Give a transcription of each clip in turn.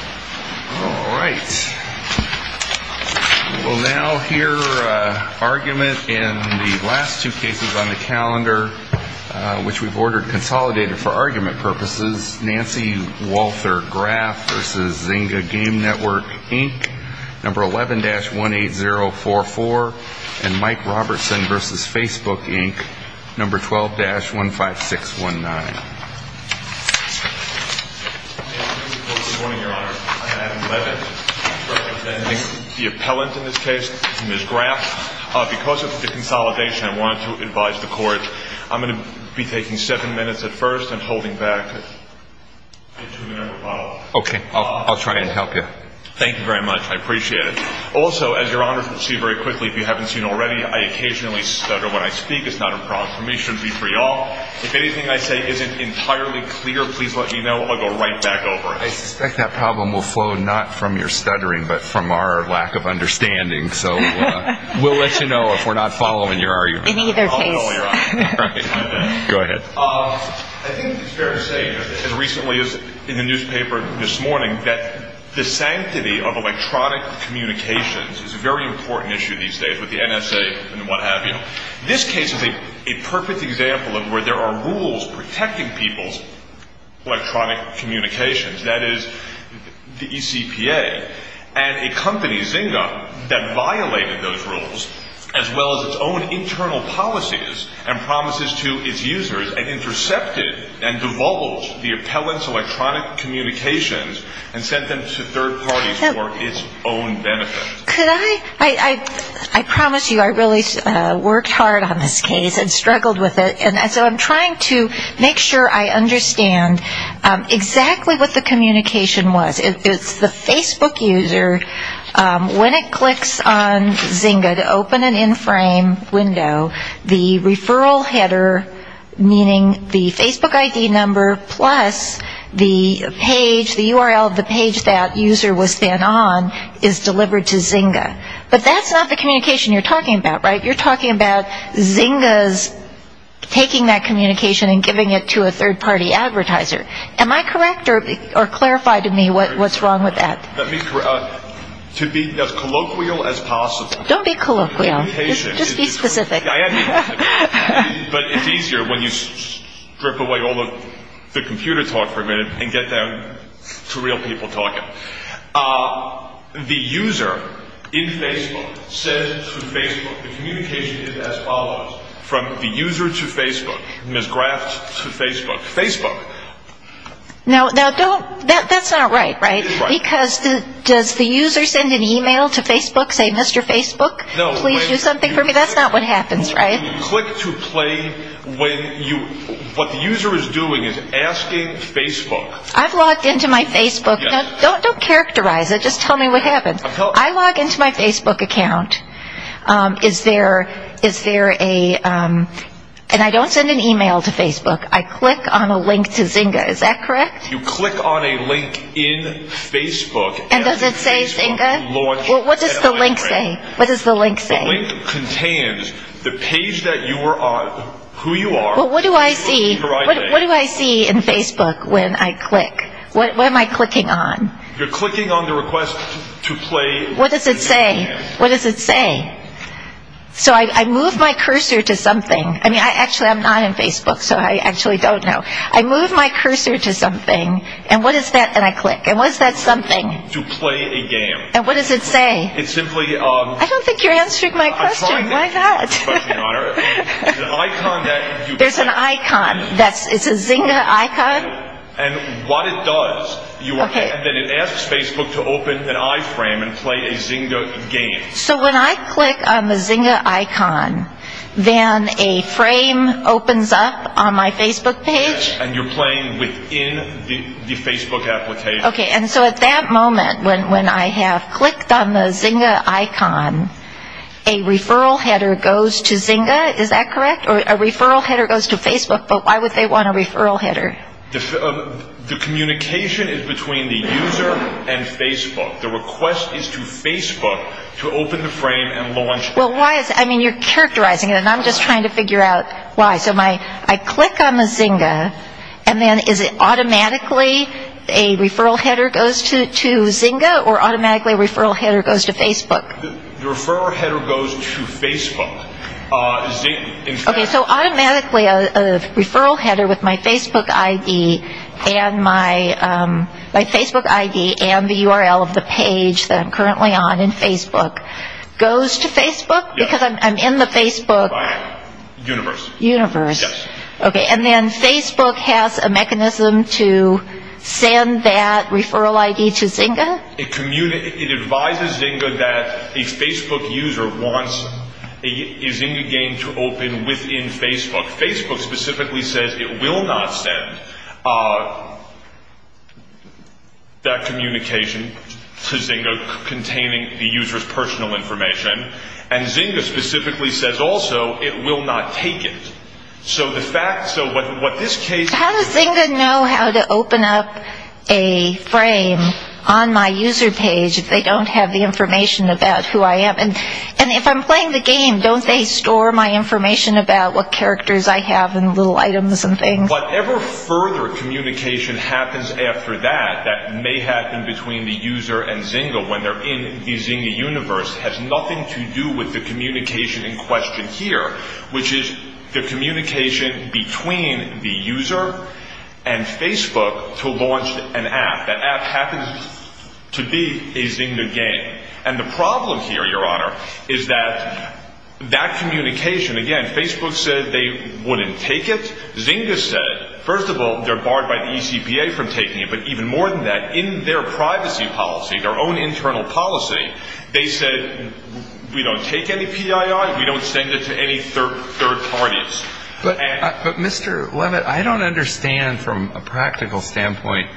Alright. We'll now hear argument in the last two cases on the calendar, which we've ordered consolidated for argument purposes. Nancy Walther Graf v. ZYNGA Game Network, Inc. No. 11-18044 and Mike Robertson v. Facebook, Inc. No. 12-15619. Good morning, Your Honor. I'm Adam Levin, representing the appellant in this case, Ms. Graf. Because of the consolidation, I wanted to advise the court. I'm going to be taking seven minutes at first and holding back. Okay. I'll try and help you. Thank you very much. I appreciate it. Also, as Your Honor can see very quickly, if you haven't seen already, I occasionally stutter when I speak. It's not a problem for me. It shouldn't be for you all. If anything I say isn't entirely clear, please let me know. I'll go right back over it. I suspect that problem will flow not from your stuttering, but from our lack of understanding. So we'll let you know if we're not following your argument. In either case. I'll tell you. Go ahead. I think it's fair to say, as recently as in the newspaper this morning, that the sanctity of electronic communications is a very important issue these days with the NSA and what have you. This case is a perfect example of where there are rules protecting people's electronic communications. That is, the ECPA. And a company, Zynga, that violated those rules, as well as its own internal policies and promises to its users, and intercepted and divulged the appellant's electronic communications and sent them to third parties for its own benefit. Could I? I promise you I really worked hard on this case and struggled with it. And so I'm trying to make sure I understand exactly what the communication was. It's the Facebook user, when it clicks on Zynga to open an in-frame window, the referral header, meaning the Facebook ID number plus the page, the URL of the page that user was sent on, is delivered to Zynga. But that's not the communication you're talking about, right? You're talking about Zynga's taking that communication and giving it to a third-party advertiser. Am I correct, or clarify to me what's wrong with that? Let me correct. To be as colloquial as possible. Don't be colloquial. Just be specific. I am specific. But it's easier when you strip away all of the computer talk for a minute and get down to real people talking. The user in Facebook says to Facebook, the communication is as follows. From the user to Facebook, Ms. Graf to Facebook, Facebook. Now, that's not right, right? Right. Because does the user send an e-mail to Facebook saying, Mr. Facebook, please do something for me? That's not what happens, right? Click to play when you, what the user is doing is asking Facebook. I've logged into my Facebook. Don't characterize it. Just tell me what happened. I log into my Facebook account. Is there a, and I don't send an e-mail to Facebook. I click on a link to Zynga. Is that correct? You click on a link in Facebook. And does it say Zynga? Well, what does the link say? What does the link say? The link contains the page that you are, who you are. Well, what do I see? What do I see in Facebook when I click? What am I clicking on? You're clicking on the request to play. What does it say? What does it say? So I move my cursor to something. I mean, I actually am not in Facebook, so I actually don't know. I move my cursor to something. And what is that? And I click. And what is that something? To play a game. And what does it say? I don't think you're answering my question. Why not? I'm trying to answer your question, Your Honor. There's an icon. There's an icon. It's a Zynga icon? And what it does. Okay. And then it asks Facebook to open an iFrame and play a Zynga game. So when I click on the Zynga icon, then a frame opens up on my Facebook page? Yes, and you're playing within the Facebook application. Okay. And so at that moment, when I have clicked on the Zynga icon, a referral header goes to Zynga? Is that correct? Or a referral header goes to Facebook, but why would they want a referral header? The communication is between the user and Facebook. The request is to Facebook to open the frame and launch. Well, why is that? I mean, you're characterizing it, and I'm just trying to figure out why. So I click on the Zynga, and then is it automatically a referral header goes to Zynga, or automatically a referral header goes to Facebook? The referral header goes to Facebook. Okay, so automatically a referral header with my Facebook ID and the URL of the page that I'm currently on in Facebook goes to Facebook because I'm in the Facebook? Universe. Universe. Yes. Okay, and then Facebook has a mechanism to send that referral ID to Zynga? It advises Zynga that a Facebook user wants a Zynga game to open within Facebook. Facebook specifically says it will not send that communication to Zynga containing the user's personal information, and Zynga specifically says also it will not take it. How does Zynga know how to open up a frame on my user page if they don't have the information about who I am? And if I'm playing the game, don't they store my information about what characters I have and little items and things? Whatever further communication happens after that, that may happen between the user and Zynga when they're in the Zynga universe, has nothing to do with the communication in question here, which is the communication between the user and Facebook to launch an app. That app happens to be a Zynga game. And the problem here, Your Honor, is that that communication, again, Facebook said they wouldn't take it. Zynga said, first of all, they're barred by the ECPA from taking it, but even more than that, in their privacy policy, their own internal policy, they said we don't take any PII, we don't send it to any third parties. But, Mr. Levitt, I don't understand from a practical standpoint.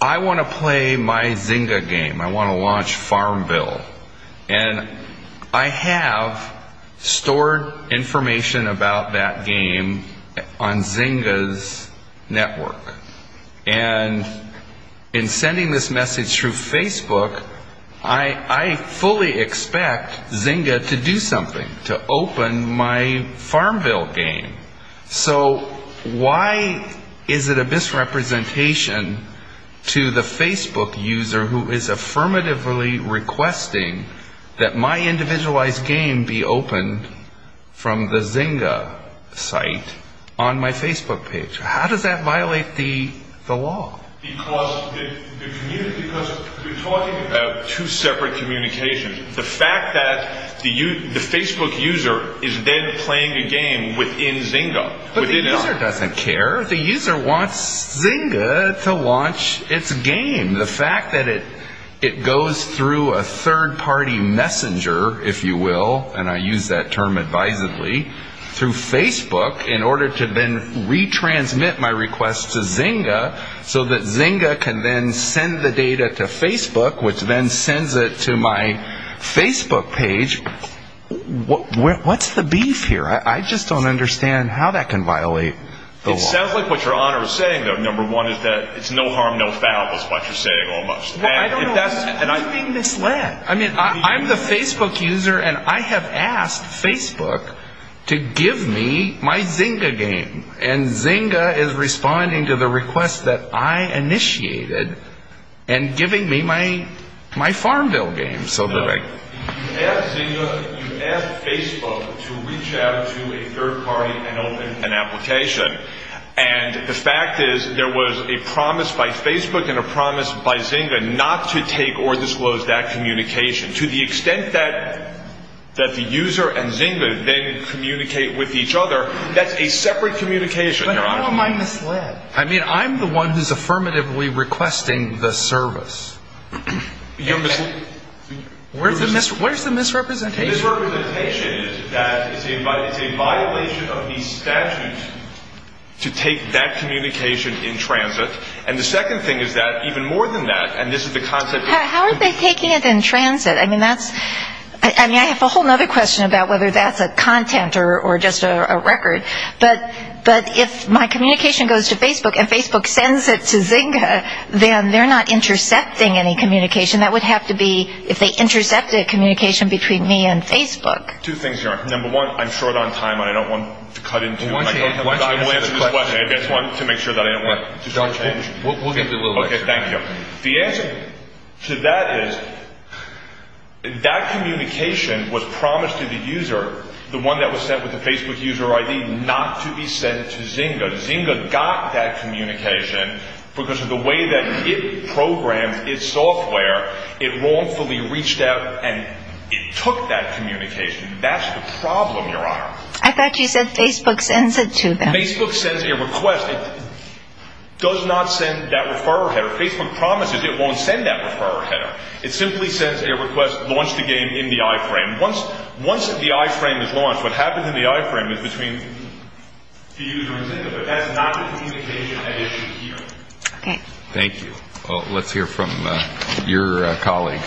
I want to play my Zynga game. I want to launch Farmville. And I have stored information about that game on Zynga's network. And in sending this message through Facebook, I fully expect Zynga to do something, to open my Farmville game. So why is it a misrepresentation to the Facebook user who is affirmatively requesting that my individualized game be opened from the Zynga site on my Facebook page? How does that violate the law? Because we're talking about two separate communications. The fact that the Facebook user is then playing a game within Zynga. But the user doesn't care. The user wants Zynga to launch its game. The fact that it goes through a third party messenger, if you will, and I use that term advisedly, through Facebook in order to then retransmit my request to Zynga so that Zynga can then send the data to Facebook, which then sends it to my Facebook page. What's the beef here? I just don't understand how that can violate the law. It sounds like what your Honor is saying, though. Number one is that it's no harm, no foul, is what you're saying almost. I don't know. You're being misled. I'm the Facebook user, and I have asked Facebook to give me my Zynga game. And Zynga is responding to the request that I initiated and giving me my FarmVille game. You asked Facebook to reach out to a third party and open an application. And the fact is there was a promise by Facebook and a promise by Zynga not to take or disclose that communication. To the extent that the user and Zynga then communicate with each other, that's a separate communication, Your Honor. But how am I misled? I mean, I'm the one who's affirmatively requesting the service. You're misled. Where's the misrepresentation? The misrepresentation is that it's a violation of the statute to take that communication in transit. And the second thing is that even more than that, and this is the concept. How are they taking it in transit? I mean, I have a whole other question about whether that's a content or just a record. But if my communication goes to Facebook and Facebook sends it to Zynga, then they're not intercepting any communication. That would have to be if they intercepted communication between me and Facebook. Two things, Your Honor. Number one, I'm short on time and I don't want to cut into it. I will answer this question to make sure that I don't want to change. We'll give you a little bit. Okay, thank you. The answer to that is that communication was promised to the user, the one that was sent with the Facebook user ID, not to be sent to Zynga. Zynga got that communication because of the way that it programs its software. It wrongfully reached out and it took that communication. That's the problem, Your Honor. I thought you said Facebook sends it to them. Facebook sends a request. It does not send that referral header. Facebook promises it won't send that referral header. It simply sends a request to launch the game in the iframe. Once the iframe is launched, what happens in the iframe is between the user and Zynga. But that's not the communication I issued here. Okay. Thank you. Well, let's hear from your colleague.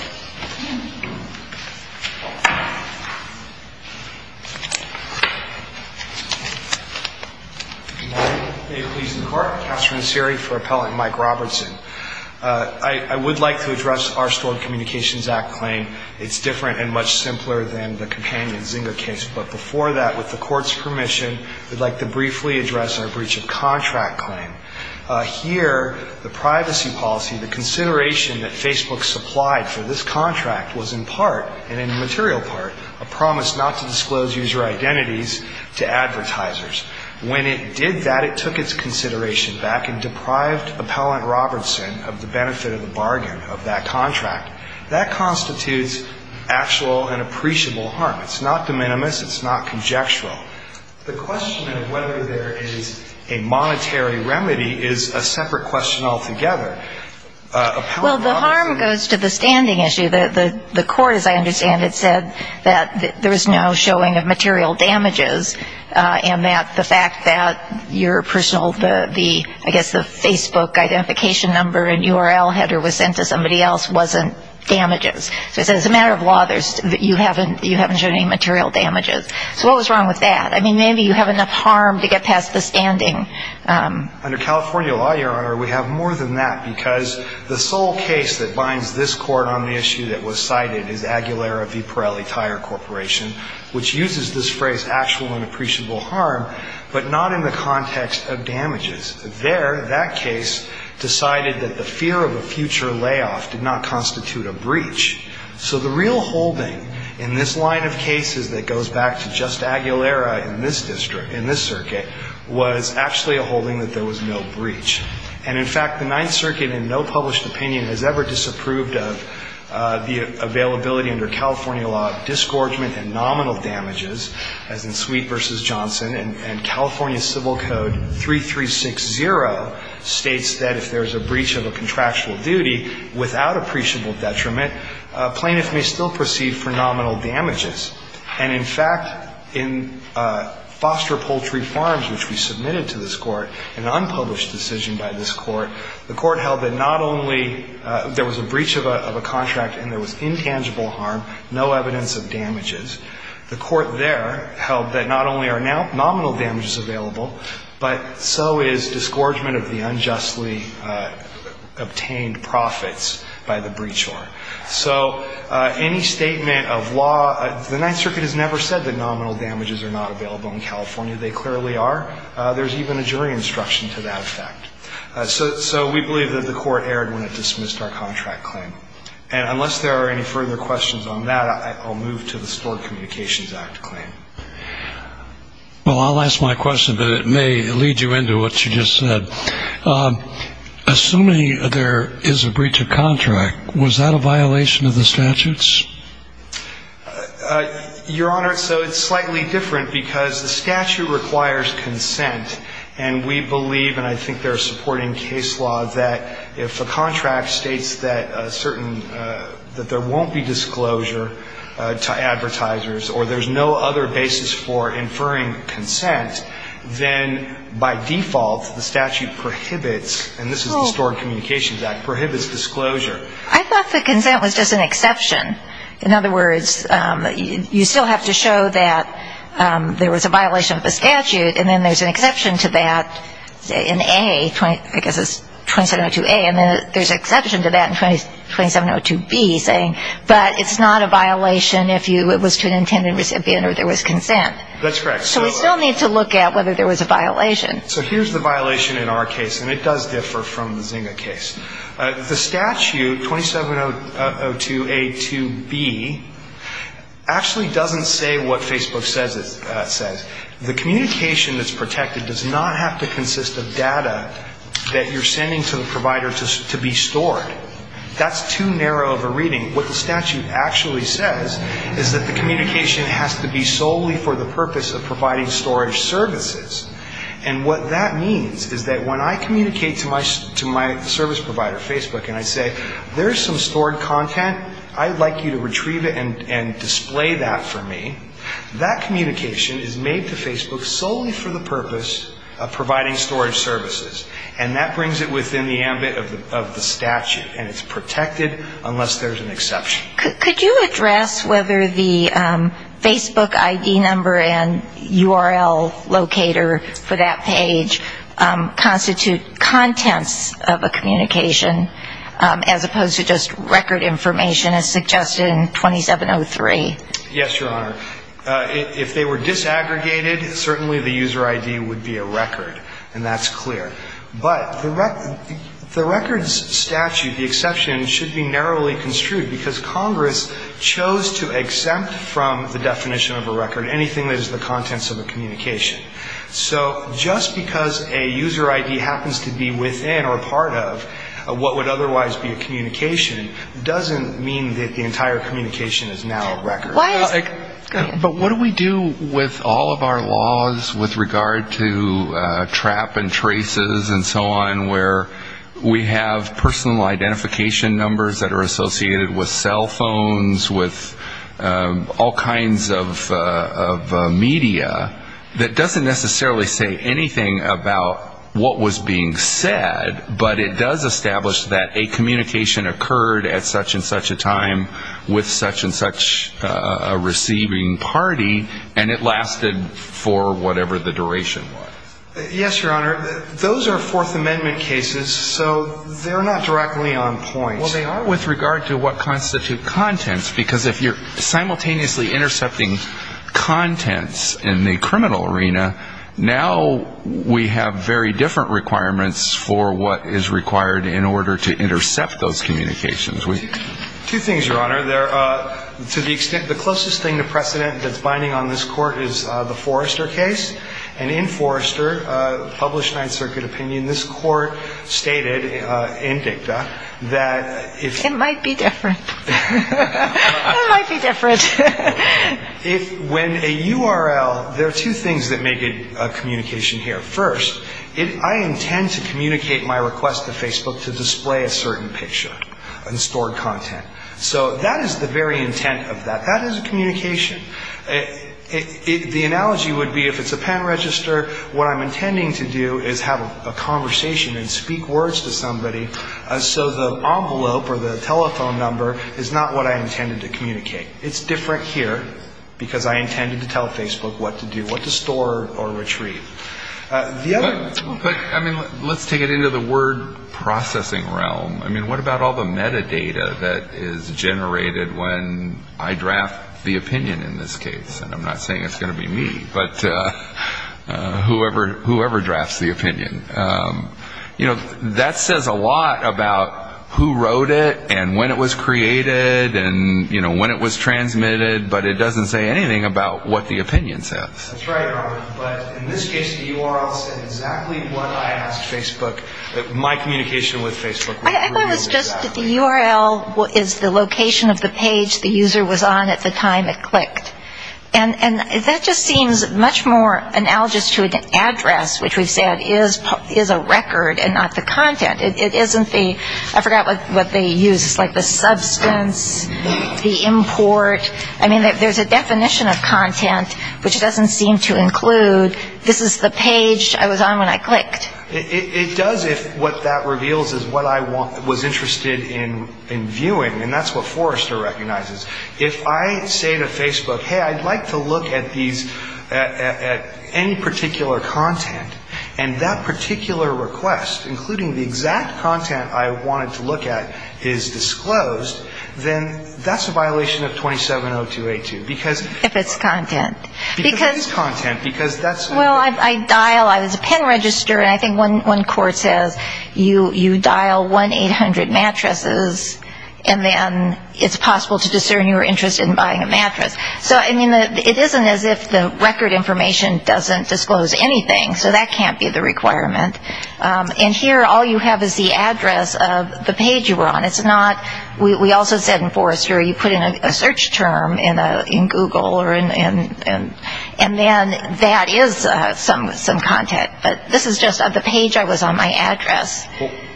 Good morning. May it please the Court. Katherine Seery for Appellant Mike Robertson. I would like to address our Stored Communications Act claim. It's different and much simpler than the companion Zynga case. But before that, with the Court's permission, I would like to briefly address our breach of contract claim. Here, the privacy policy, the consideration that Facebook supplied for this contract, was in part, and in the material part, a promise not to disclose user identities to advertisers. When it did that, it took its consideration back and deprived Appellant Robertson of the benefit of the bargain of that contract. That constitutes actual and appreciable harm. It's not de minimis. It's not conjectural. The question of whether there is a monetary remedy is a separate question altogether. Well, the harm goes to the standing issue. The Court, as I understand it, said that there is no showing of material damages and that the fact that your personal, I guess the Facebook identification number and URL header was sent to somebody else wasn't damages. So it's a matter of law that you haven't shown any material damages. So what was wrong with that? I mean, maybe you have enough harm to get past the standing. Under California law, Your Honor, we have more than that because the sole case that binds this Court on the issue that was cited is Aguilera v. Pirelli Tire Corporation, which uses this phrase, actual and appreciable harm, but not in the context of damages. There, that case decided that the fear of a future layoff did not constitute a breach. So the real holding in this line of cases that goes back to just Aguilera in this district, in this circuit, was actually a holding that there was no breach. And, in fact, the Ninth Circuit, in no published opinion, has ever disapproved of the availability under California law of disgorgement and nominal damages, as in Sweet v. Johnson. And California Civil Code 3360 states that if there is a breach of a contractual duty without appreciable detriment, plaintiff may still proceed for nominal damages. And, in fact, in Foster Poultry Farms, which we submitted to this Court, an unpublished decision by this Court, the Court held that not only there was a breach of a contract and there was intangible harm, no evidence of damages, the Court there held that not only are nominal damages available, but so is disgorgement of the unjustly obtained profits by the breachor. So any statement of law, the Ninth Circuit has never said that nominal damages are not available in California. They clearly are. There's even a jury instruction to that effect. So we believe that the Court erred when it dismissed our contract claim. And unless there are any further questions on that, I'll move to the Stored Communications Act claim. Well, I'll ask my question, but it may lead you into what you just said. Assuming there is a breach of contract, was that a violation of the statutes? Your Honor, so it's slightly different because the statute requires consent. And we believe, and I think they're supporting case law, that if a contract states that there won't be disclosure to advertisers or there's no other basis for inferring consent, then by default the statute prohibits, and this is the Stored Communications Act, prohibits disclosure. I thought the consent was just an exception. In other words, you still have to show that there was a violation of the statute and then there's an exception to that in A, I guess it's 2702A, and then there's an exception to that in 2702B saying, but it's not a violation if it was to an intended recipient or there was consent. That's correct. So we still need to look at whether there was a violation. So here's the violation in our case, and it does differ from the Zynga case. The statute, 2702A2B, actually doesn't say what Facebook says it says. The communication that's protected does not have to consist of data that you're sending to the provider to be stored. That's too narrow of a reading. What the statute actually says is that the communication has to be solely for the purpose of providing storage services, and what that means is that when I communicate to my service provider, Facebook, and I say, there's some stored content. I'd like you to retrieve it and display that for me. That communication is made to Facebook solely for the purpose of providing storage services, and that brings it within the ambit of the statute, and it's protected unless there's an exception. Could you address whether the Facebook ID number and URL locator for that page constitute contents of a communication, as opposed to just record information as suggested in 2703? Yes, Your Honor. If they were disaggregated, certainly the user ID would be a record, and that's clear. But the records statute, the exception, should be narrowly construed, because Congress chose to exempt from the definition of a record anything that is the contents of a communication. So just because a user ID happens to be within or a part of what would otherwise be a communication doesn't mean that the entire communication is now a record. But what do we do with all of our laws with regard to trap and traces and so on, where we have personal identification numbers that are associated with cell phones, with all kinds of media that doesn't necessarily say anything about what was being said, but it does establish that a communication occurred at such and such a time with such and such a receiving party, and it lasted for whatever the duration was? Yes, Your Honor. Those are Fourth Amendment cases, so they're not directly on point. Well, they are with regard to what constitute contents, because if you're simultaneously intercepting contents in the criminal arena, now we have very different requirements for what is required in order to intercept those communications. Two things, Your Honor. To the extent the closest thing to precedent that's binding on this Court is the Forrester case. And in Forrester, published Ninth Circuit opinion, this Court stated in dicta that if you're going to use a URL, there are two things that make a communication here. First, I intend to communicate my request to Facebook to display a certain picture and stored content. So that is the very intent of that. That is a communication. The analogy would be if it's a pen register, what I'm intending to do is have a conversation and speak words to somebody, so the envelope or the telephone number is not what I intended to communicate. It's different here, because I intended to tell Facebook what to do, what to store or retrieve. The other one. But, I mean, let's take it into the word processing realm. I mean, what about all the metadata that is generated when I draft the opinion in this case? And I'm not saying it's going to be me, but whoever drafts the opinion. You know, that says a lot about who wrote it and when it was created and, you know, when it was transmitted. But it doesn't say anything about what the opinion says. That's right, Robert. But in this case, the URL said exactly what I asked Facebook. My communication with Facebook revealed exactly. I thought it was just that the URL is the location of the page the user was on at the time it clicked. And that just seems much more analogous to an address, which we've said is a record and not the content. It isn't the ‑‑ I forgot what they use. It's like the substance, the import. I mean, there's a definition of content, which doesn't seem to include this is the page I was on when I clicked. It does if what that reveals is what I was interested in viewing, and that's what Forrester recognizes. If I say to Facebook, hey, I'd like to look at these ‑‑ at any particular content, and that particular request, including the exact content I wanted to look at, is disclosed, then that's a violation of 270282, because ‑‑ If it's content. Because it is content, because that's ‑‑ Well, I dial. I think one court says you dial 1‑800 mattresses, and then it's possible to discern your interest in buying a mattress. So, I mean, it isn't as if the record information doesn't disclose anything, so that can't be the requirement. And here, all you have is the address of the page you were on. It's not ‑‑ we also said in Forrester, you put in a search term in Google, and then that is some content. But this is just of the page I was on, my address.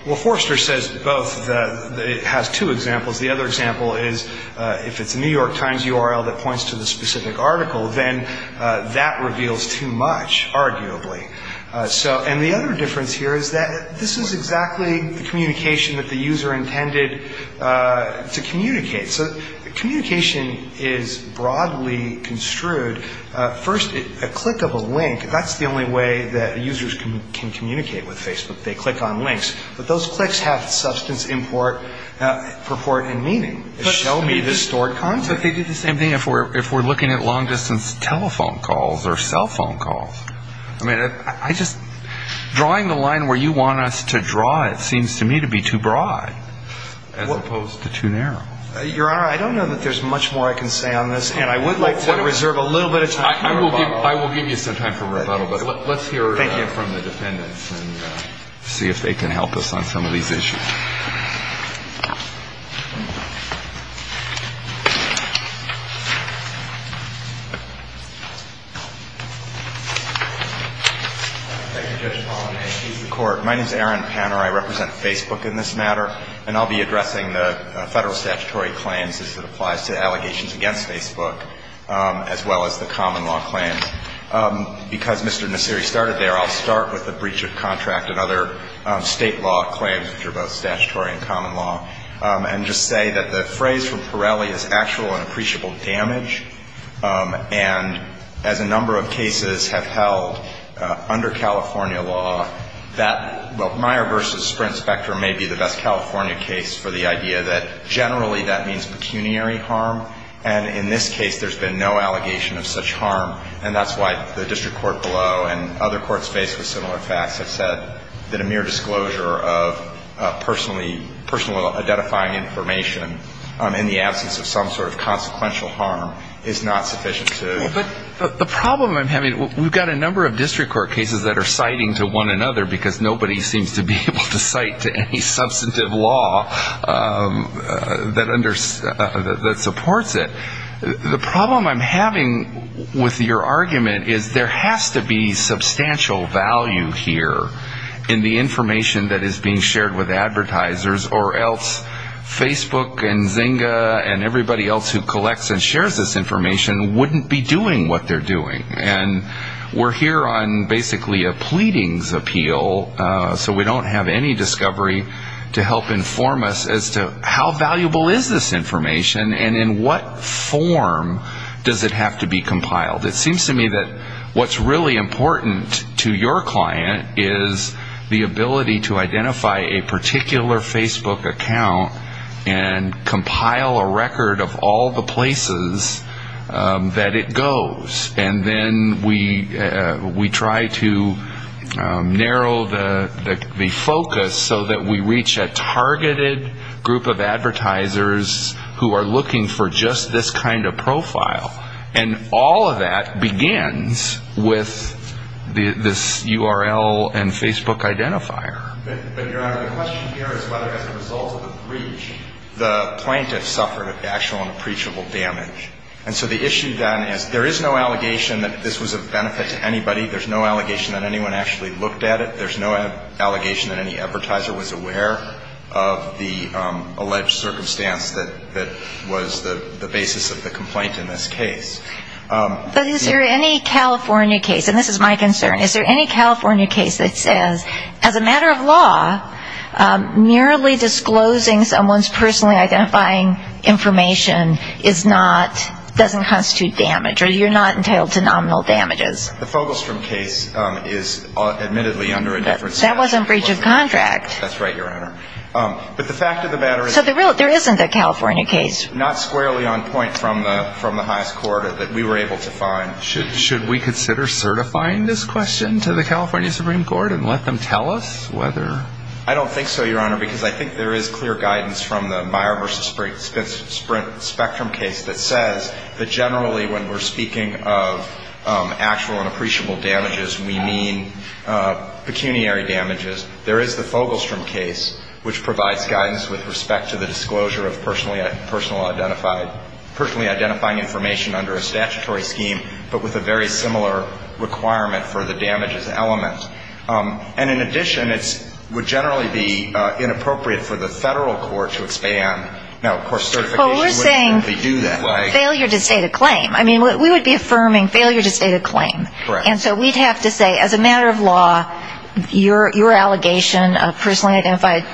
Well, Forrester says both. It has two examples. The other example is if it's a New York Times URL that points to the specific article, then that reveals too much, arguably. And the other difference here is that this is exactly the communication that the user intended to communicate. So communication is broadly construed. First, a click of a link, that's the only way that users can communicate with Facebook. They click on links. But those clicks have substance, import, purport, and meaning. Show me this stored content. But they do the same thing if we're looking at long‑distance telephone calls or cell phone calls. I mean, I just ‑‑ drawing the line where you want us to draw it seems to me to be too broad as opposed to too narrow. Your Honor, I don't know that there's much more I can say on this. And I would like to reserve a little bit of time for rebuttal. I will give you some time for rebuttal. But let's hear from the defendants and see if they can help us on some of these issues. Thank you, Judge Paulin. And please, the Court. My name is Aaron Panner. I represent Facebook in this matter. And I'll be addressing the federal statutory claims as it applies to allegations against Facebook, as well as the common law claims. Because Mr. Nasiri started there, I'll start with the breach of contract and other state law claims, which are both statutory and common law, and just say that the phrase from Pirelli is actual and appreciable damage. And as a number of cases have held under California law, that Meyer v. Sprint Specter may be the best California case for the idea that generally that means pecuniary harm. And in this case, there's been no allegation of such harm. And that's why the district court below and other courts faced with similar facts have said that a mere disclosure of personal identifying information in the absence of some sort of consequential harm is not sufficient to. But the problem I'm having, we've got a number of district court cases that are citing to one another, because nobody seems to be able to cite to any substantive law that supports it. The problem I'm having with your argument is there has to be substantial value here in the information that is being shared with advertisers, or else Facebook and Zynga and everybody else who collects and shares this information wouldn't be doing what they're doing. And we're here on basically a pleadings appeal, so we don't have any discovery to help inform us as to how valuable is this information, and in what form does it have to be compiled. It seems to me that what's really important to your client is the ability to identify a particular Facebook account and compile a record of all the places that it goes. And then we try to narrow the focus so that we reach a targeted group of advertisers who are looking for just this kind of profile. And all of that begins with this URL and Facebook identifier. But, Your Honor, the question here is whether as a result of the breach, the plaintiff suffered actual and preachable damage. And so the issue then is there is no allegation that this was of benefit to anybody. There's no allegation that anyone actually looked at it. There's no allegation that any advertiser was aware of the alleged circumstance that was the basis of the complaint in this case. But is there any California case, and this is my concern, is there any California case that says as a matter of law, merely disclosing someone's personally identifying information is not, doesn't constitute damage, or you're not entitled to nominal damages? The Fogelstrom case is admittedly under a different statute. That wasn't breach of contract. That's right, Your Honor. But the fact of the matter is... Should we consider certifying this question to the California Supreme Court and let them tell us whether... I don't think so, Your Honor, because I think there is clear guidance from the Meyer v. Sprint Spectrum case that says that generally, when we're speaking of actual and appreciable damages, we mean pecuniary damages. There is the Fogelstrom case, which provides guidance with respect to the disclosure of personally identifying information on behalf of the plaintiff. That's under a statutory scheme, but with a very similar requirement for the damages element. And in addition, it would generally be inappropriate for the federal court to expand. Now, of course, certification wouldn't normally do that. Well, we're saying failure to state a claim. I mean, we would be affirming failure to state a claim. Correct. And so we'd have to say, as a matter of law, your allegation of personally identifying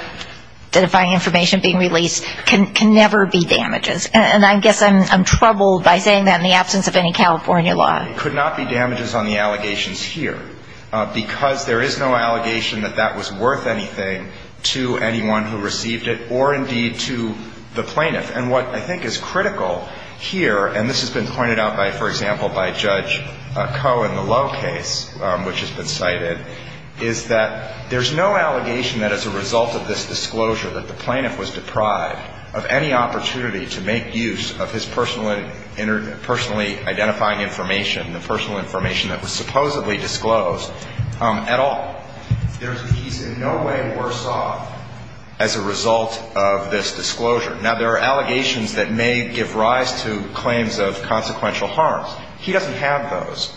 information being released can never be damages. And I guess I'm troubled by saying that in the absence of any California law. It could not be damages on the allegations here, because there is no allegation that that was worth anything to anyone who received it, or indeed to the plaintiff. And what I think is critical here, and this has been pointed out by, for example, by Judge Koh in the Lowe case, which has been cited, is that there's no allegation that as a result of this disclosure that the plaintiff was deprived of any opportunity to make use of his personally identifying information, the personal information that was supposedly disclosed, at all. He's in no way worse off as a result of this disclosure. Now, there are allegations that may give rise to claims of consequential harms. He doesn't have those.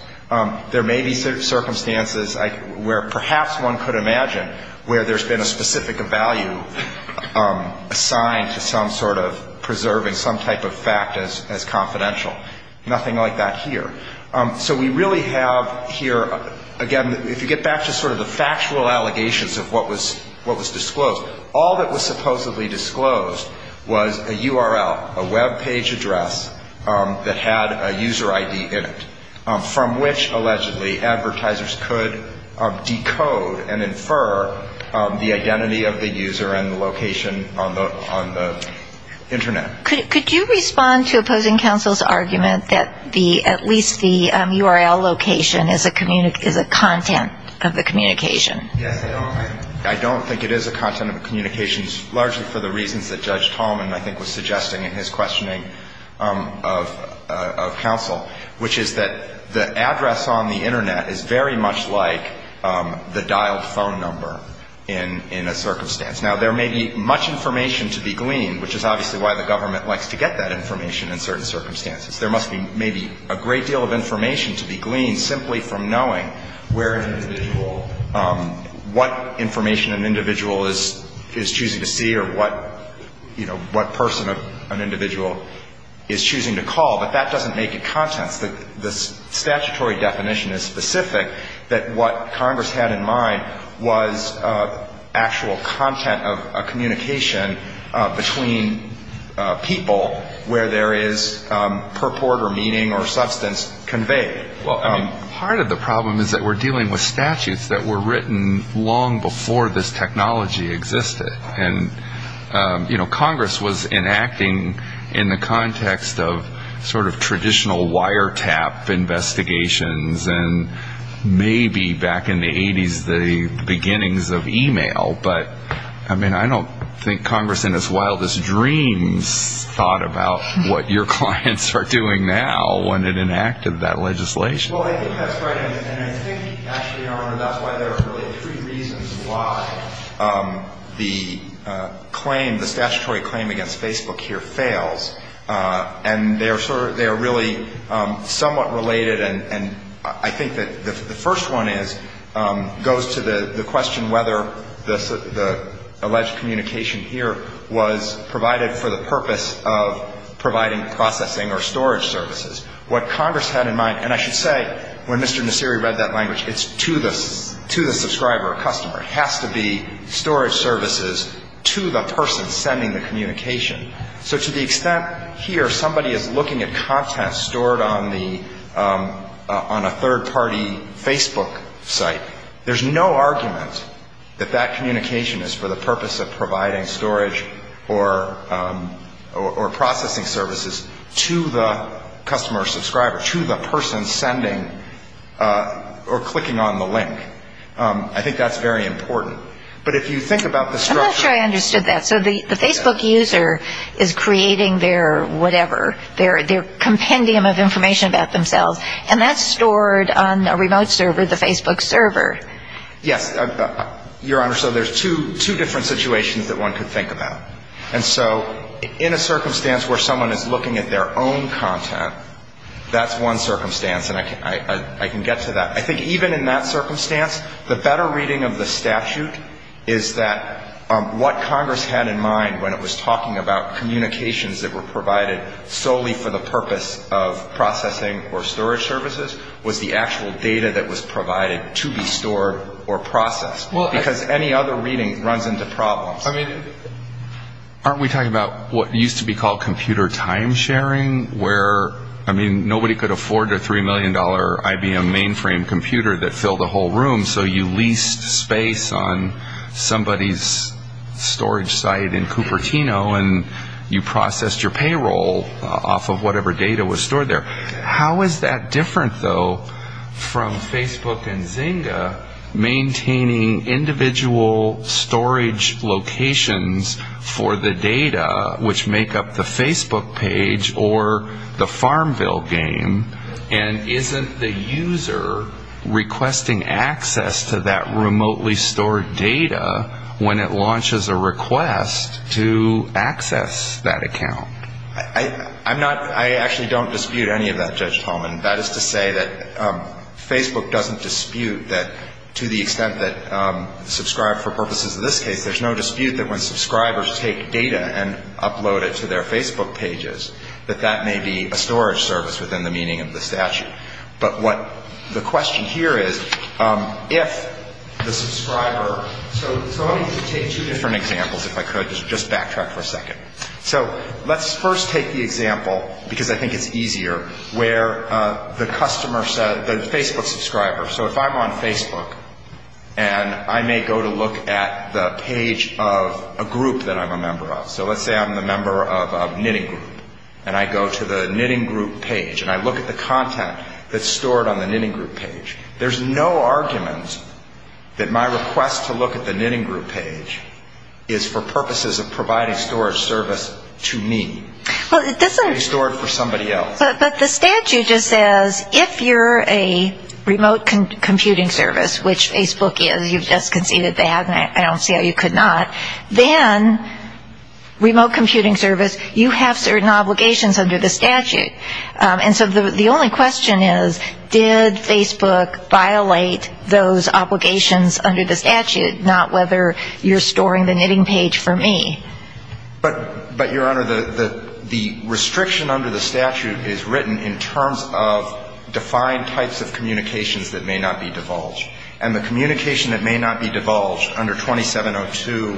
There may be circumstances where perhaps one could imagine where there's been a specific value assigned to some sort of preserving some type of fact as confidential. Nothing like that here. So we really have here, again, if you get back to sort of the factual allegations of what was disclosed, all that was supposedly disclosed was a URL, a Web page address that had a user ID in it, from which, allegedly, advertisers could decode and infer the identity of the user and the location on the Internet. Could you respond to opposing counsel's argument that at least the URL location is a content of the communication? Yes, I don't think it is a content of the communication, largely for the reasons that Judge Tallman, I think, was suggesting in his questioning of counsel, which is that the address on the Internet is very much like the dialed phone number in a circumstance. Now, there may be much information to be gleaned, which is obviously why the government likes to get that information in certain circumstances. There must be maybe a great deal of information to be gleaned simply from knowing where an individual, what information an individual is choosing to see or what, you know, what person an individual is choosing to call. But that doesn't make it contents. The statutory definition is specific that what Congress had in mind was actual content of a communication between people, where there is purport or meaning or substance conveyed. Well, part of the problem is that we're dealing with statutes that were written long before this technology existed. And, you know, Congress was enacting in the context of sort of traditional wiretap investigations and maybe back in the 80s the beginnings of e-mail. But, I mean, I don't think Congress in its wildest dreams thought about what your clients are doing now when it enacted that legislation. Well, I think that's right. And I think, actually, Your Honor, that's why there are really three reasons why the claim, the statutory claim against Facebook here fails. And they are sort of, they are really somewhat related. And I think that the first one is, goes to the question whether the alleged communication here was provided for the purpose of providing processing or storage services. What Congress had in mind, and I should say when Mr. Nasiri read that language, it's to the subscriber or customer. It has to be storage services to the person sending the communication. So to the extent here somebody is looking at content stored on the, on a third-party Facebook site, there's no argument that that communication is for the purpose of providing storage or processing services to the customer or subscriber, to the person sending or clicking on the link. I think that's very important. But if you think about the structure. I'm not sure I understood that. So the Facebook user is creating their whatever, their compendium of information about themselves, and that's stored on a remote server, the Facebook server. Yes. Your Honor, so there's two different situations that one could think about. And so in a circumstance where someone is looking at their own content, that's one circumstance. And I can get to that. I think even in that circumstance, the better reading of the statute is that what Congress had in mind when it was talking about storage services was the actual data that was provided to be stored or processed. Because any other reading runs into problems. I mean, aren't we talking about what used to be called computer time sharing, where, I mean, nobody could afford a $3 million IBM mainframe computer that filled a whole room, so you leased space on somebody's storage site in Cupertino, and you processed your payroll off of whatever data was stored there. How is that different, though, from Facebook and Zynga maintaining individual storage locations for the data, which make up the Facebook page or the FarmVille game? And isn't the user requesting access to that remotely stored data when it launches a request to access that account? I'm not — I actually don't dispute any of that, Judge Tolman. That is to say that Facebook doesn't dispute that, to the extent that Subscribe, for purposes of this case, there's no dispute that when subscribers take data and upload it to their Facebook pages, that that may be a storage service within the meaning of the statute. But what the question here is, if the subscriber — so let me take two different examples, if I could. Just backtrack for a second. So let's first take the example, because I think it's easier, where the customer said — the Facebook subscriber. So if I'm on Facebook, and I may go to look at the page of a group that I'm a member of. So let's say I'm a member of a knitting group, and I go to the knitting group page, and I look at the content that's stored on the knitting group page. There's no argument that my request to look at the knitting group page is for purposes of providing storage service to me. It can be stored for somebody else. But the statute just says, if you're a remote computing service, which Facebook is. You've just conceded that, and I don't see how you could not. Then, remote computing service, you have certain obligations under the statute. And so the only question is, did Facebook violate those obligations under the statute, not whether you're storing the knitting page for me? But, Your Honor, the restriction under the statute is written in terms of defined types of communications that may not be divulged. And the communication that may not be divulged under 2702A2,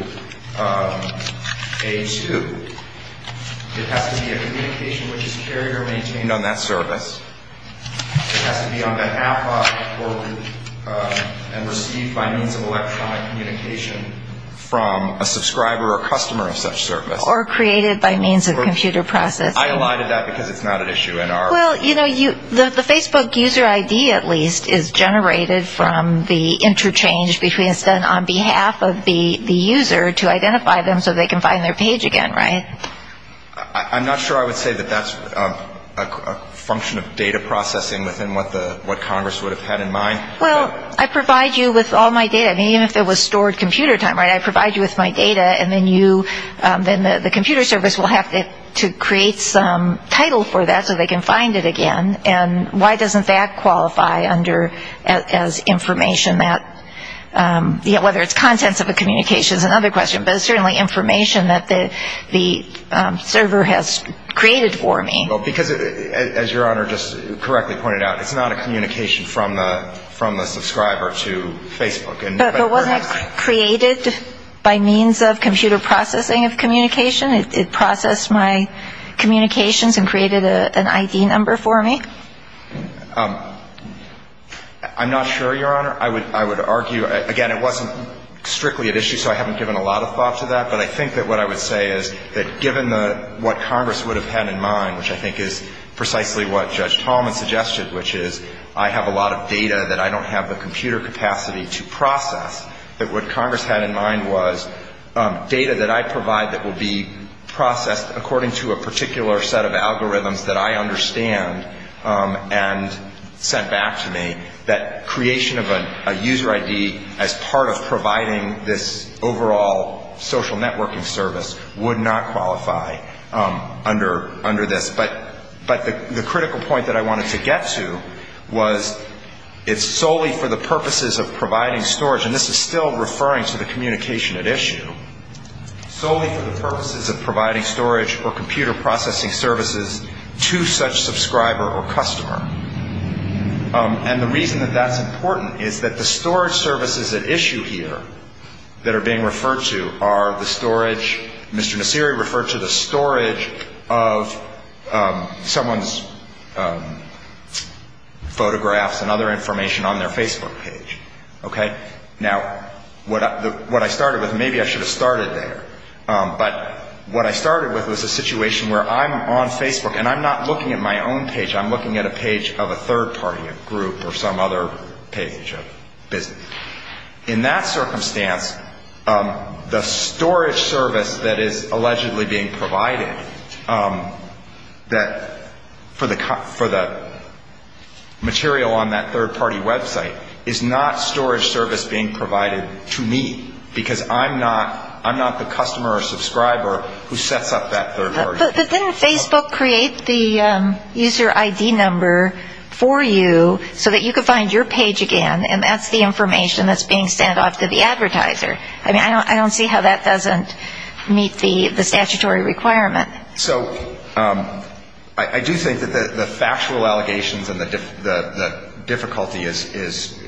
it has to be a communication which is carried or maintained on that service. It has to be on behalf of or received by means of electronic communication from a subscriber or customer of such service. Or created by means of computer processing. I allotted that because it's not an issue in our. Well, you know, the Facebook user ID, at least, is generated from the interchange between, instead on behalf of the user to identify them so they can find their page again, right? I'm not sure I would say that that's a function of data processing within what Congress would have had in mind. Well, I provide you with all my data. I mean, even if it was stored computer time, right, I provide you with my data. And then you, then the computer service will have to create some title for that so they can find it again. And why doesn't that qualify under as information that, you know, whether it's contents of a communication is another question. But it's certainly information that the server has created for me. Well, because, as Your Honor just correctly pointed out, it's not a communication from the subscriber to Facebook. But wasn't it created by means of computer processing of communication? It processed my communications and created an ID number for me? I'm not sure, Your Honor. I would argue, again, it wasn't strictly at issue, so I haven't given a lot of thought to that. But I think that what I would say is that given what Congress would have had in mind, which I think is precisely what Judge Tallman suggested, which is I have a lot of data that I don't have the computer capacity to process, that what Congress had in mind was data that I provide that will be processed according to a particular set of algorithms that I understand and sent back to me, that creation of a user ID as part of providing this overall social networking service would not qualify under this. But the critical point that I wanted to get to was it's solely for the purposes of providing storage, and this is still referring to the communication at issue, solely for the purposes of providing storage or computer processing services to such subscriber or customer. And the reason that that's important is that the storage services at issue here that are being referred to are the storage, Mr. Nasiri referred to the storage of someone's photographs and other information on their Facebook page. Okay? Now, what I started with, maybe I should have started there, but what I started with was a situation where I'm on Facebook and I'm not looking at my own page, I'm looking at a page of a third-party group or some other page of business. In that circumstance, the storage service that is allegedly being provided for the material on that third-party website is not storage service being provided to me, because I'm not the customer or subscriber who sets up that third party. But then Facebook creates the user ID number for you so that you can find your page again, and that's the information that's being sent off to the advertiser. I mean, I don't see how that doesn't meet the statutory requirement. So I do think that the factual allegations and the difficulty is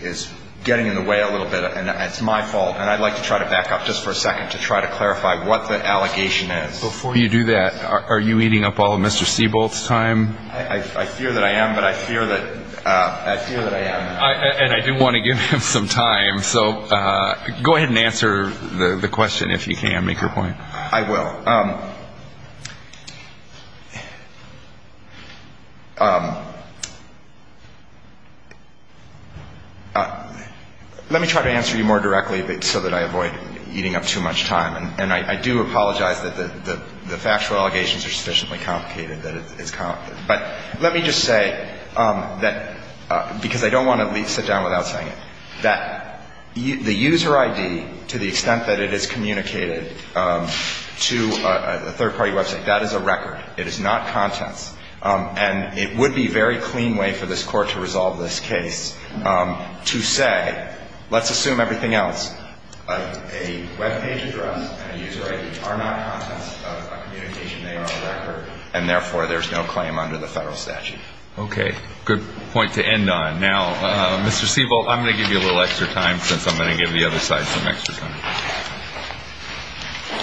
getting in the way a little bit, and it's my fault. And I'd like to try to back up just for a second to try to clarify what the allegation is. Before you do that, are you eating up all of Mr. Siebold's time? I fear that I am, but I fear that I am. And I do want to give him some time, so go ahead and answer the question if you can, make your point. I will. Let me try to answer you more directly so that I avoid eating up too much time. And I do apologize that the factual allegations are sufficiently complicated that it's complicated. But let me just say that, because I don't want to sit down without saying it, that the user ID, to the extent that it is communicated to a third party website, that is a record. It is not contents. And it would be a very clean way for this Court to resolve this case to say, let's assume everything else. A web page address and a user ID are not contents of a communication name or a record, and therefore there's no claim under the federal statute. Okay. Good point to end on. Now, Mr. Siebold, I'm going to give you a little extra time since I'm going to give the other side some extra time.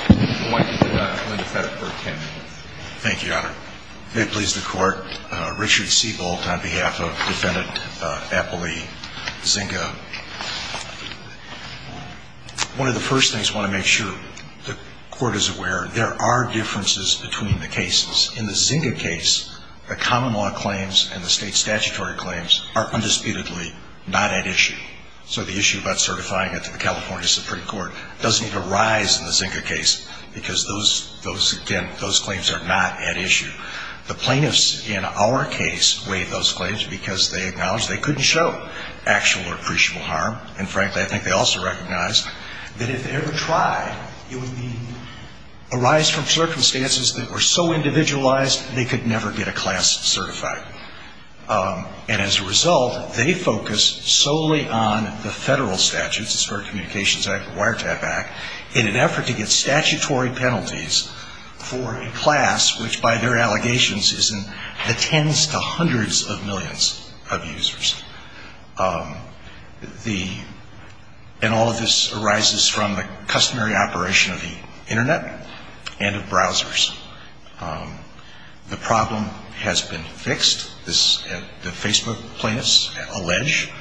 I'm going to let Linda Feddick for ten minutes. Thank you, Your Honor. If it pleases the Court, Richard Siebold on behalf of Defendant Appley Zinke. One of the first things I want to make sure the Court is aware, there are differences between the cases. In the Zinke case, the common law claims and the state statutory claims are undisputedly not at issue. So the issue about certifying it to the California Supreme Court doesn't even rise in the Zinke case because, again, those claims are not at issue. The plaintiffs in our case waived those claims because they acknowledged they couldn't show actual or appreciable harm. And, frankly, I think they also recognized that if they ever tried, it would arise from circumstances that were so individualized they could never get a class certified. And as a result, they focused solely on the federal statutes, the Wiretap Act, in an effort to get statutory penalties for a class which, by their allegations, attends to hundreds of millions of users. And all of this arises from the customary operation of the Internet and of browsers. The problem has been fixed. The Facebook plaintiffs allege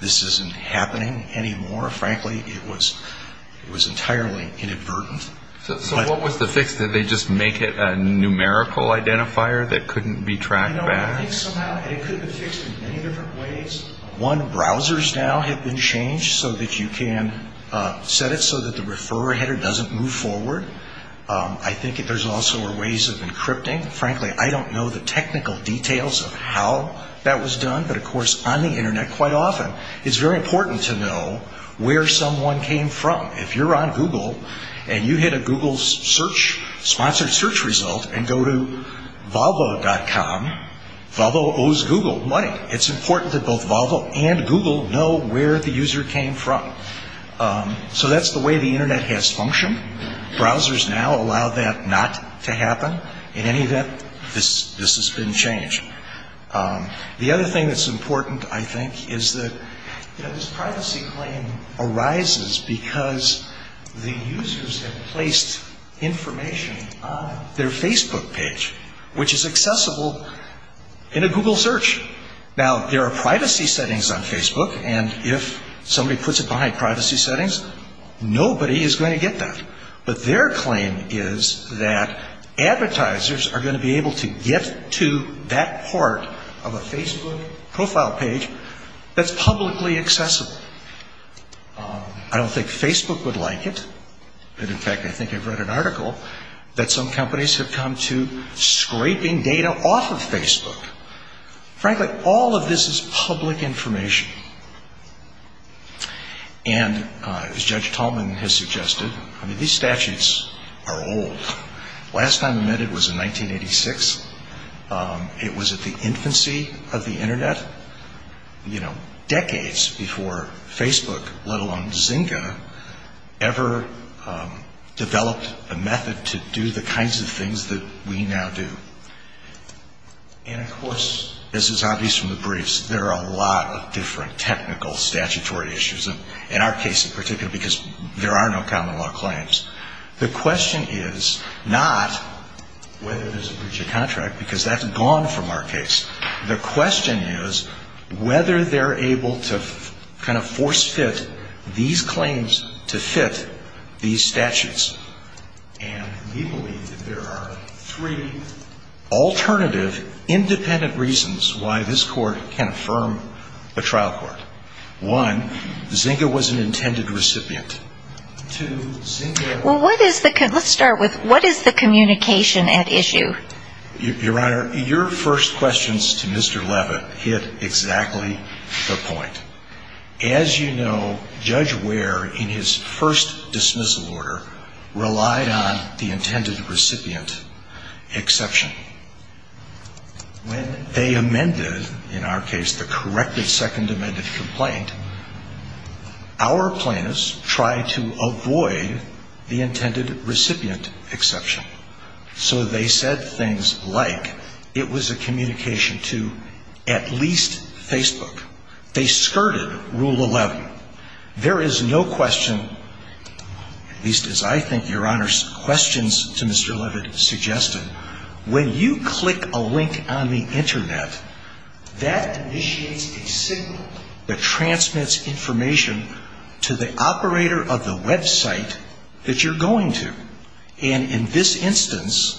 this isn't happening anymore. Frankly, it was entirely inadvertent. So what was the fix? Did they just make it a numerical identifier that couldn't be tracked back? I think somehow it could have been fixed in many different ways. One, browsers now have been changed so that you can set it so that the referrer header doesn't move forward. I think there's also ways of encrypting. Frankly, I don't know the technical details of how that was done. But, of course, on the Internet, quite often, it's very important to know where someone came from. If you're on Google and you hit a Google search, sponsored search result, and go to Volvo.com, Volvo owes Google money. It's important that both Volvo and Google know where the user came from. So that's the way the Internet has functioned. Browsers now allow that not to happen. In any event, this has been changed. The other thing that's important, I think, is that this privacy claim arises because the users have placed information on their Facebook page, which is accessible in a Google search. Now, there are privacy settings on Facebook. And if somebody puts it behind privacy settings, nobody is going to get that. But their claim is that advertisers are going to be able to get to that part of a Facebook profile page that's publicly accessible. I don't think Facebook would like it. In fact, I think I've read an article that some companies have come to scraping data off of Facebook. Frankly, all of this is public information. And as Judge Tallman has suggested, I mean, these statutes are old. The last time we met it was in 1986. It was at the infancy of the Internet, you know, decades before Facebook, let alone Zynga, ever developed a method to do the kinds of things that we now do. And of course, this is obvious from the briefs, there are a lot of different technical statutory issues, in our case in particular, because there are no common law claims. The question is not whether there's a breach of contract, because that's gone from our case. The question is whether they're able to kind of force-fit these claims to fit these statutes. And we believe that there are three alternative independent reasons why this court can affirm a trial court. One, Zynga was an intended recipient. Two, Zynga was an intended recipient. Let's start with what is the communication at issue? Your Honor, your first questions to Mr. Leva hit exactly the point. As you know, Judge Ware, in his first dismissal order, relied on the intended recipient exception. When they amended, in our case, the corrected second amended complaint, our plaintiffs tried to avoid the intended recipient exception. So they said things like, it was a communication to at least Facebook. They skirted Rule 11. There is no question, at least as I think your Honor's questions to Mr. Levitt suggested, when you click a link on the Internet, that initiates a signal that transmits information to the operator of the website that you're going to. And in this instance,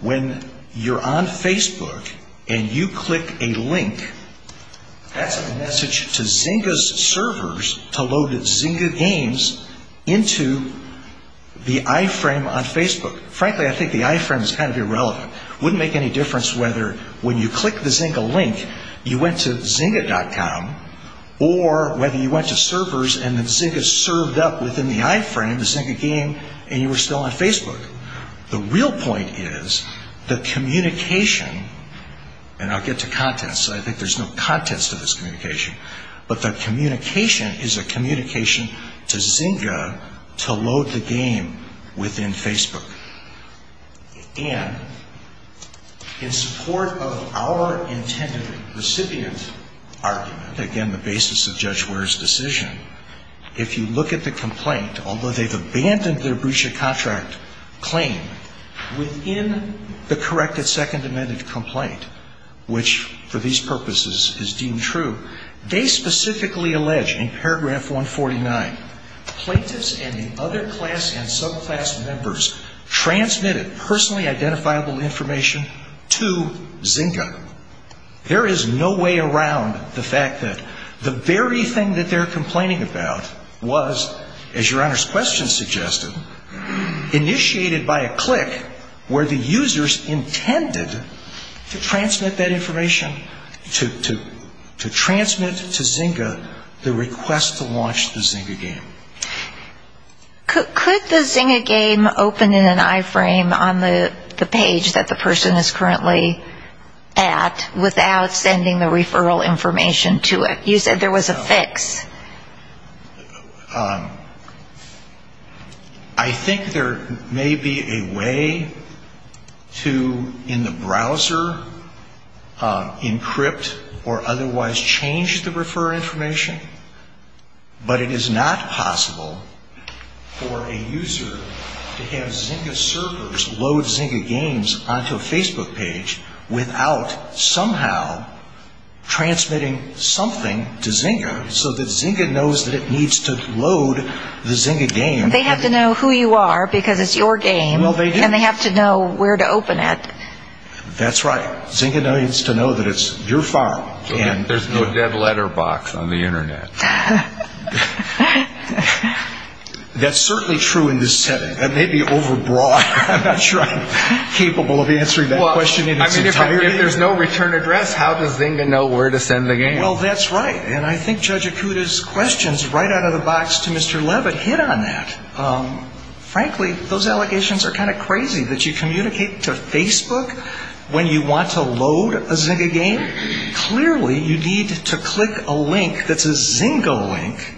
when you're on Facebook and you click a link, that's a message to Zynga's servers to load Zynga games into the iframe on Facebook. Frankly, I think the iframe is kind of irrelevant. It wouldn't make any difference whether when you click the Zynga link, you went to Zynga.com, or whether you went to servers and Zynga served up within the iframe the Zynga game and you were still on Facebook. The real point is the communication, and I'll get to contents. I think there's no contents to this communication. But the communication is a communication to Zynga to load the game within Facebook. And in support of our intended recipient argument, again, the basis of Judge Ware's decision, if you look at the complaint, although they've abandoned their breach of contract claim, within the corrected Second Amendment complaint, which for these purposes is deemed true, they specifically allege in paragraph 149, plaintiffs and the other class and subclass members transmitted personally identifiable information to Zynga. There is no way around the fact that the very thing that they're complaining about was, as Your Honor's question suggested, initiated by a click where the users intended to transmit that information, to transmit to Zynga the request to launch the Zynga game. Could the Zynga game open in an iframe on the page that the person is currently at without sending the referral information to it? You said there was a fix. I think there may be a way to, in the browser, encrypt or otherwise change the referral information. But it is not possible for a user to have Zynga servers load Zynga games onto a Facebook page without somehow transmitting something to Zynga so that Zynga knows that it needs to load the Zynga game. They have to know who you are because it's your game and they have to know where to open it. That's right. Zynga needs to know that it's your farm. There's no dead letter box on the Internet. That's certainly true in this setting. That may be overbroad. I'm not sure I'm capable of answering that question in its entirety. If there's no return address, how does Zynga know where to send the game? Well, that's right. And I think Judge Akuta's questions right out of the box to Mr. Leavitt hit on that. Frankly, those allegations are kind of crazy that you communicate to Facebook when you want to load a Zynga game. Clearly, you need to click a link that's a Zynga link.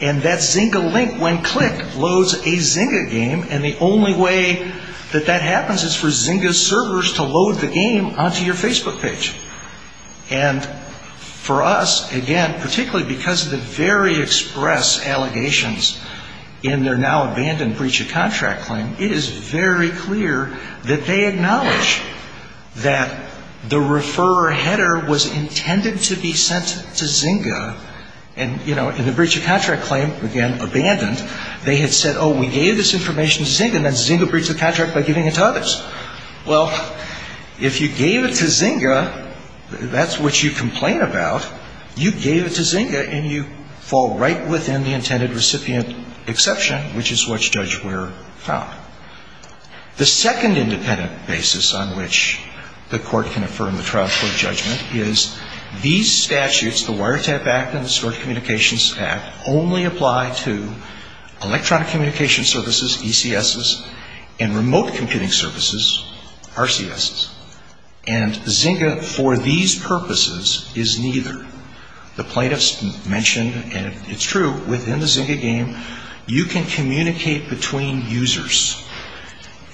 And that Zynga link, when clicked, loads a Zynga game. And the only way that that happens is for Zynga servers to load the game onto your Facebook page. And for us, again, particularly because of the very express allegations in their now-abandoned breach of contract claim, it is very clear that they acknowledge that the referrer header was intended to be sent to Zynga. And, you know, in the breach of contract claim, again, abandoned, they had said, oh, we gave this information to Zynga, and then Zynga breached the contract by giving it to others. Well, if you gave it to Zynga, that's what you complain about. You gave it to Zynga, and you fall right within the intended recipient exception, which is what Judge Ware found. The second independent basis on which the court can affirm the trial court judgment is these statutes, the Wiretap Act and the Short Communications Act, only apply to electronic communication services, ECSs, and remote computing services, RCSs. And Zynga, for these purposes, is neither. The plaintiffs mentioned, and it's true, within the Zynga game, you can communicate between users.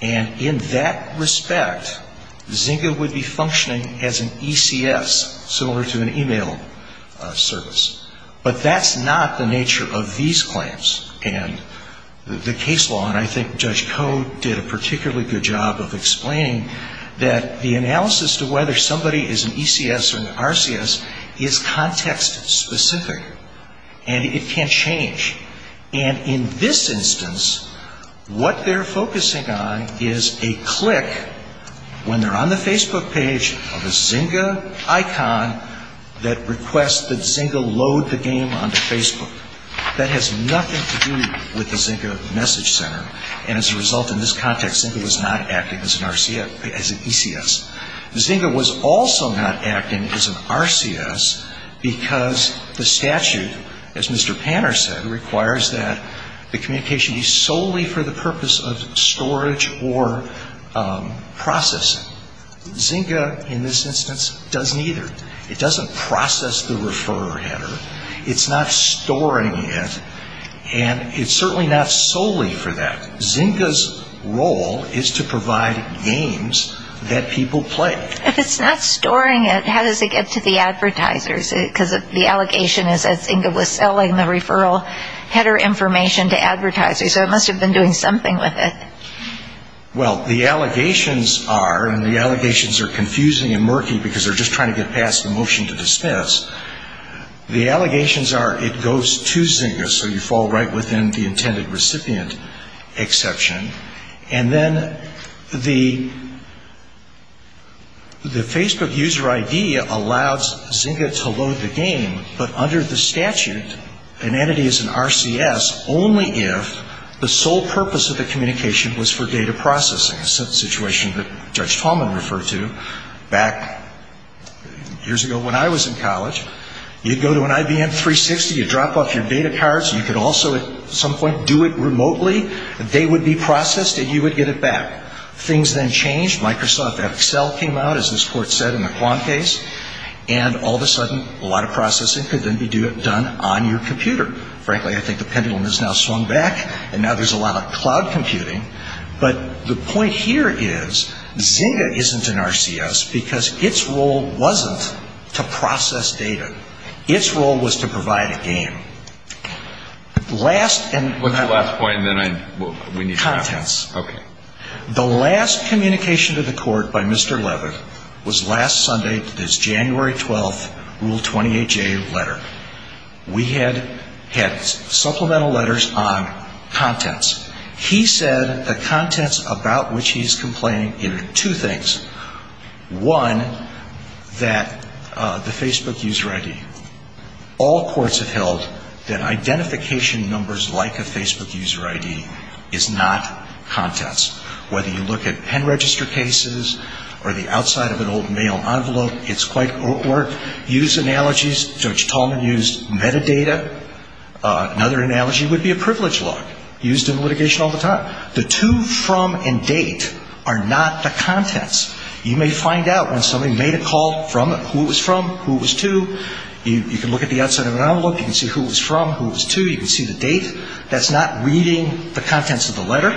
And in that respect, Zynga would be functioning as an ECS, similar to an e-mail service. But that's not the nature of these claims and the case law. And I think Judge Code did a particularly good job of explaining that the analysis to whether somebody is an ECS or an RCS is context-specific, and it can't change. And in this instance, what they're focusing on is a click, when they're on the Facebook page, of a Zynga icon that requests that Zynga load the game onto Facebook. That has nothing to do with the Zynga message center, and as a result, in this context, Zynga was not acting as an RCS, as an ECS. Zynga was also not acting as an RCS because the statute, as Mr. Panner said, requires that the communication be solely for the purpose of storage or processing. Zynga, in this instance, does neither. It doesn't process the referrer header, it's not storing it, and it's certainly not solely for that. Zynga's role is to provide games that people play. If it's not storing it, how does it get to the advertisers? Because the allegation is that Zynga was selling the referral header information to advertisers, so it must have been doing something with it. Well, the allegations are, and the allegations are confusing and murky because they're just trying to get past the motion to dismiss, the allegations are it goes to Zynga, so you fall right within the intended recipient exception. And then the Facebook user ID allows Zynga to load the game, but under the statute, an entity is an RCS only if the sole purpose of the communication is to store the game. The second allegation was for data processing, a situation that Judge Tallman referred to back years ago when I was in college. You'd go to an IBM 360, you'd drop off your data cards, you could also at some point do it remotely. They would be processed and you would get it back. Things then changed. Microsoft Excel came out, as this Court said, in the Quan case, and all of a sudden a lot of processing could then be done on your computer. Frankly, I think the pendulum has now swung back and now there's a lot of cloud computing. But the point here is Zynga isn't an RCS because its role wasn't to process data. Its role was to provide a game. What's the last point? The last communication to the Court by Mr. Leavitt was last Sunday, this January 12th Rule 28J letter. We had had supplemental letters on contents. He said the contents about which he's complaining are two things. One, that the Facebook user ID. All courts have held that identification numbers like a Facebook user ID is not contents. Whether you look at pen register cases or the outside of an old mail envelope, it's quite work. Use analogies. George Tallman used metadata. Another analogy would be a privilege log, used in litigation all the time. The to, from, and date are not the contents. You may find out when somebody made a call from who it was from, who it was to. You can look at the outside of an envelope. You can see who it was from, who it was to. You can see the date. That's not reading the contents of the letter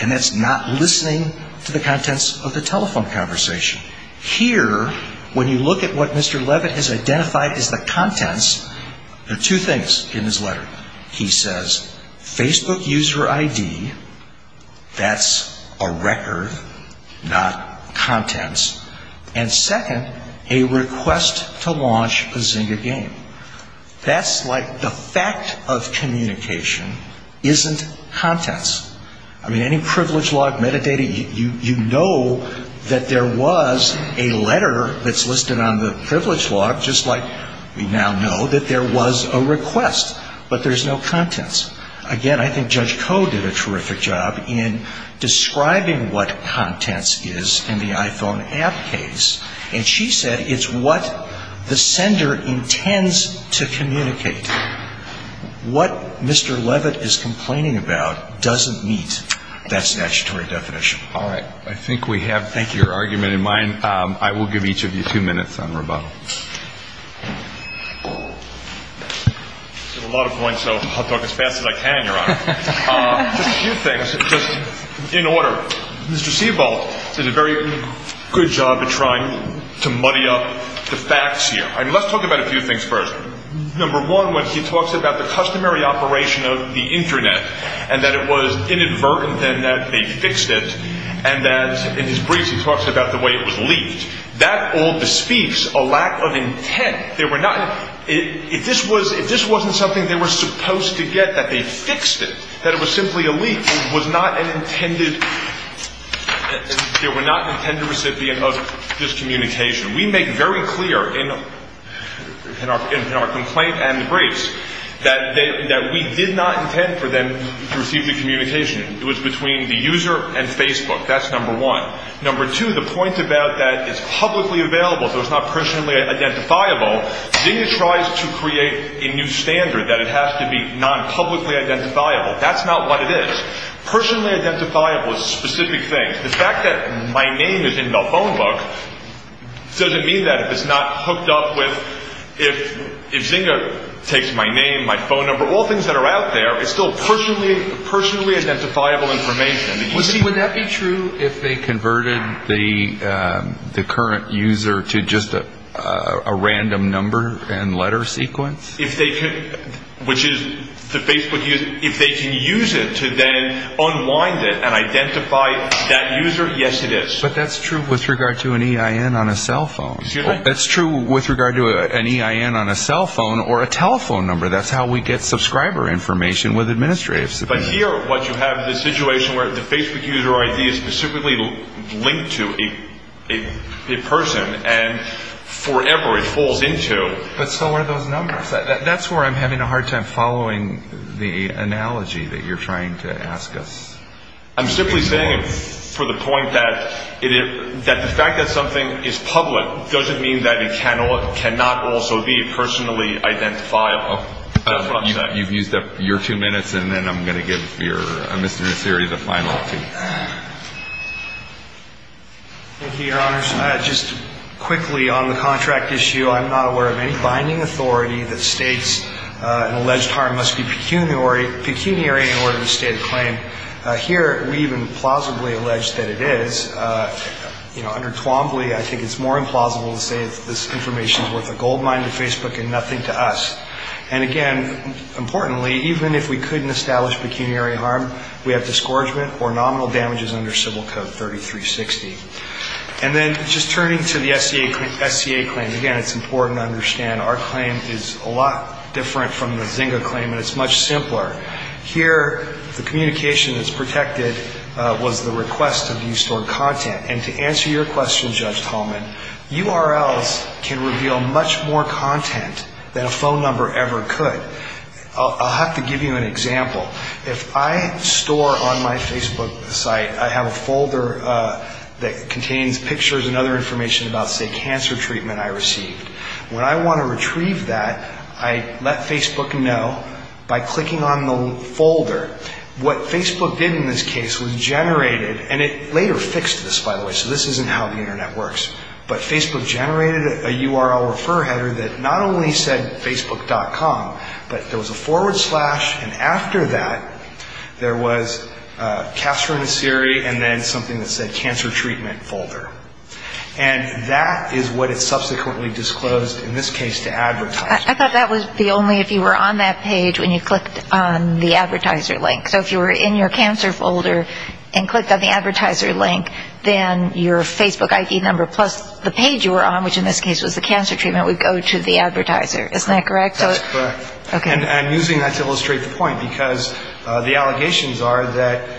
and that's not listening to the contents of the telephone conversation. Here, when you look at what Mr. Leavitt has identified as the contents, there are two things in his letter. He says Facebook user ID, that's a record, not contents. And second, a request to launch a Zynga game. That's like the fact of communication isn't contents. I mean, any privilege log, metadata, you know that there was a letter that's listed on the privilege log, just like we now know that there was a request. But there's no contents. Again, I think Judge Koh did a terrific job in describing what contents is in the iPhone app case. And she said it's what the sender intends to communicate. What Mr. Leavitt is complaining about doesn't meet that statutory definition. All right. I think we have your argument in mind. Thank you. I will give each of you two minutes on rebuttal. I have a lot of points, so I'll talk as fast as I can, Your Honor. Just a few things, just in order. Mr. Siebold did a very good job of trying to muddy up the facts here. I mean, let's talk about a few things first. Number one, when he talks about the customary operation of the internet and that it was inadvertent and that they fixed it, and that in his briefs he talks about the way it was leaked. That all bespeaks a lack of intent. If this wasn't something they were supposed to get, that they fixed it, that it was simply a leak, it was not an intended recipient of this communication. We make very clear in our complaint and the briefs that we did not intend for them to receive the communication. It was between the user and Facebook. That's number one. Number two, the point about that is publicly available, so it's not personally identifiable. Zynga tries to create a new standard that it has to be non-publicly identifiable. That's not what it is. Personally identifiable is specific things. The fact that my name is in the phone book doesn't mean that if it's not hooked up with – if Zynga takes my name, my phone number, all things that are out there, it's still personally identifiable information. Would that be true if they converted the current user to just a random number and letter sequence? If they could – which is the Facebook user – if they can use it to then unwind it and identify that user, yes it is. But that's true with regard to an EIN on a cell phone. That's true with regard to an EIN on a cell phone or a telephone number. That's how we get subscriber information with administrative support. But here what you have is a situation where the Facebook user ID is specifically linked to a person and forever it falls into – But so are those numbers. That's where I'm having a hard time following the analogy that you're trying to ask us. I'm simply saying it for the point that the fact that something is public doesn't mean that it cannot also be personally identifiable. You've used up your two minutes, and then I'm going to give Mr. Nasiri the final two. Thank you, Your Honors. Just quickly on the contract issue, I'm not aware of any binding authority that states an alleged harm must be pecuniary in order to state a claim. Here we even plausibly allege that it is. Under Twombly, I think it's more implausible to say this information is worth a gold mine to Facebook and nothing to us. And again, importantly, even if we couldn't establish pecuniary harm, we have disgorgement or nominal damages under Civil Code 3360. And then just turning to the SCA claim, again, it's important to understand our claim is a lot different from the Zynga claim, and it's much simpler. Here, the communication that's protected was the request of you stored content. And to answer your question, Judge Tallman, URLs can reveal much more content than a phone number ever could. I'll have to give you an example. If I store on my Facebook site, I have a folder that contains pictures and other information about, say, cancer treatment I received. When I want to retrieve that, I let Facebook know by clicking on the folder. What Facebook did in this case was generated, and it later fixed this, by the way, so this isn't how the Internet works, but Facebook generated a URL refer header that not only said Facebook.com, but there was a forward slash, and after that, there was Castro and Siri, and then something that said Cancer Treatment Folder. And that is what it subsequently disclosed in this case to advertisers. I thought that was the only, if you were on that page, when you clicked on the advertiser link. So if you were in your cancer folder and clicked on the advertiser link, then your Facebook ID number plus the page you were on, which in this case was the cancer treatment, would go to the advertiser. Isn't that correct? That's correct. Okay. And I'm using that to illustrate the point, because the allegations are that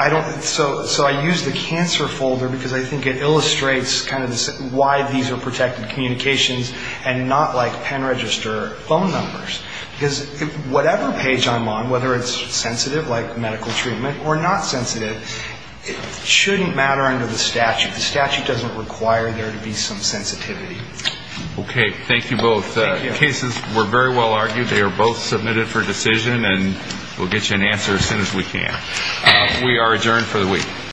I don't – So I use the cancer folder because I think it illustrates kind of why these are protected communications and not like pen register phone numbers. Because whatever page I'm on, whether it's sensitive, like medical treatment, or not sensitive, it shouldn't matter under the statute. The statute doesn't require there to be some sensitivity. Okay. Thank you both. Thank you. The cases were very well argued. They are both submitted for decision, and we'll get you an answer as soon as we can. We are adjourned for the week.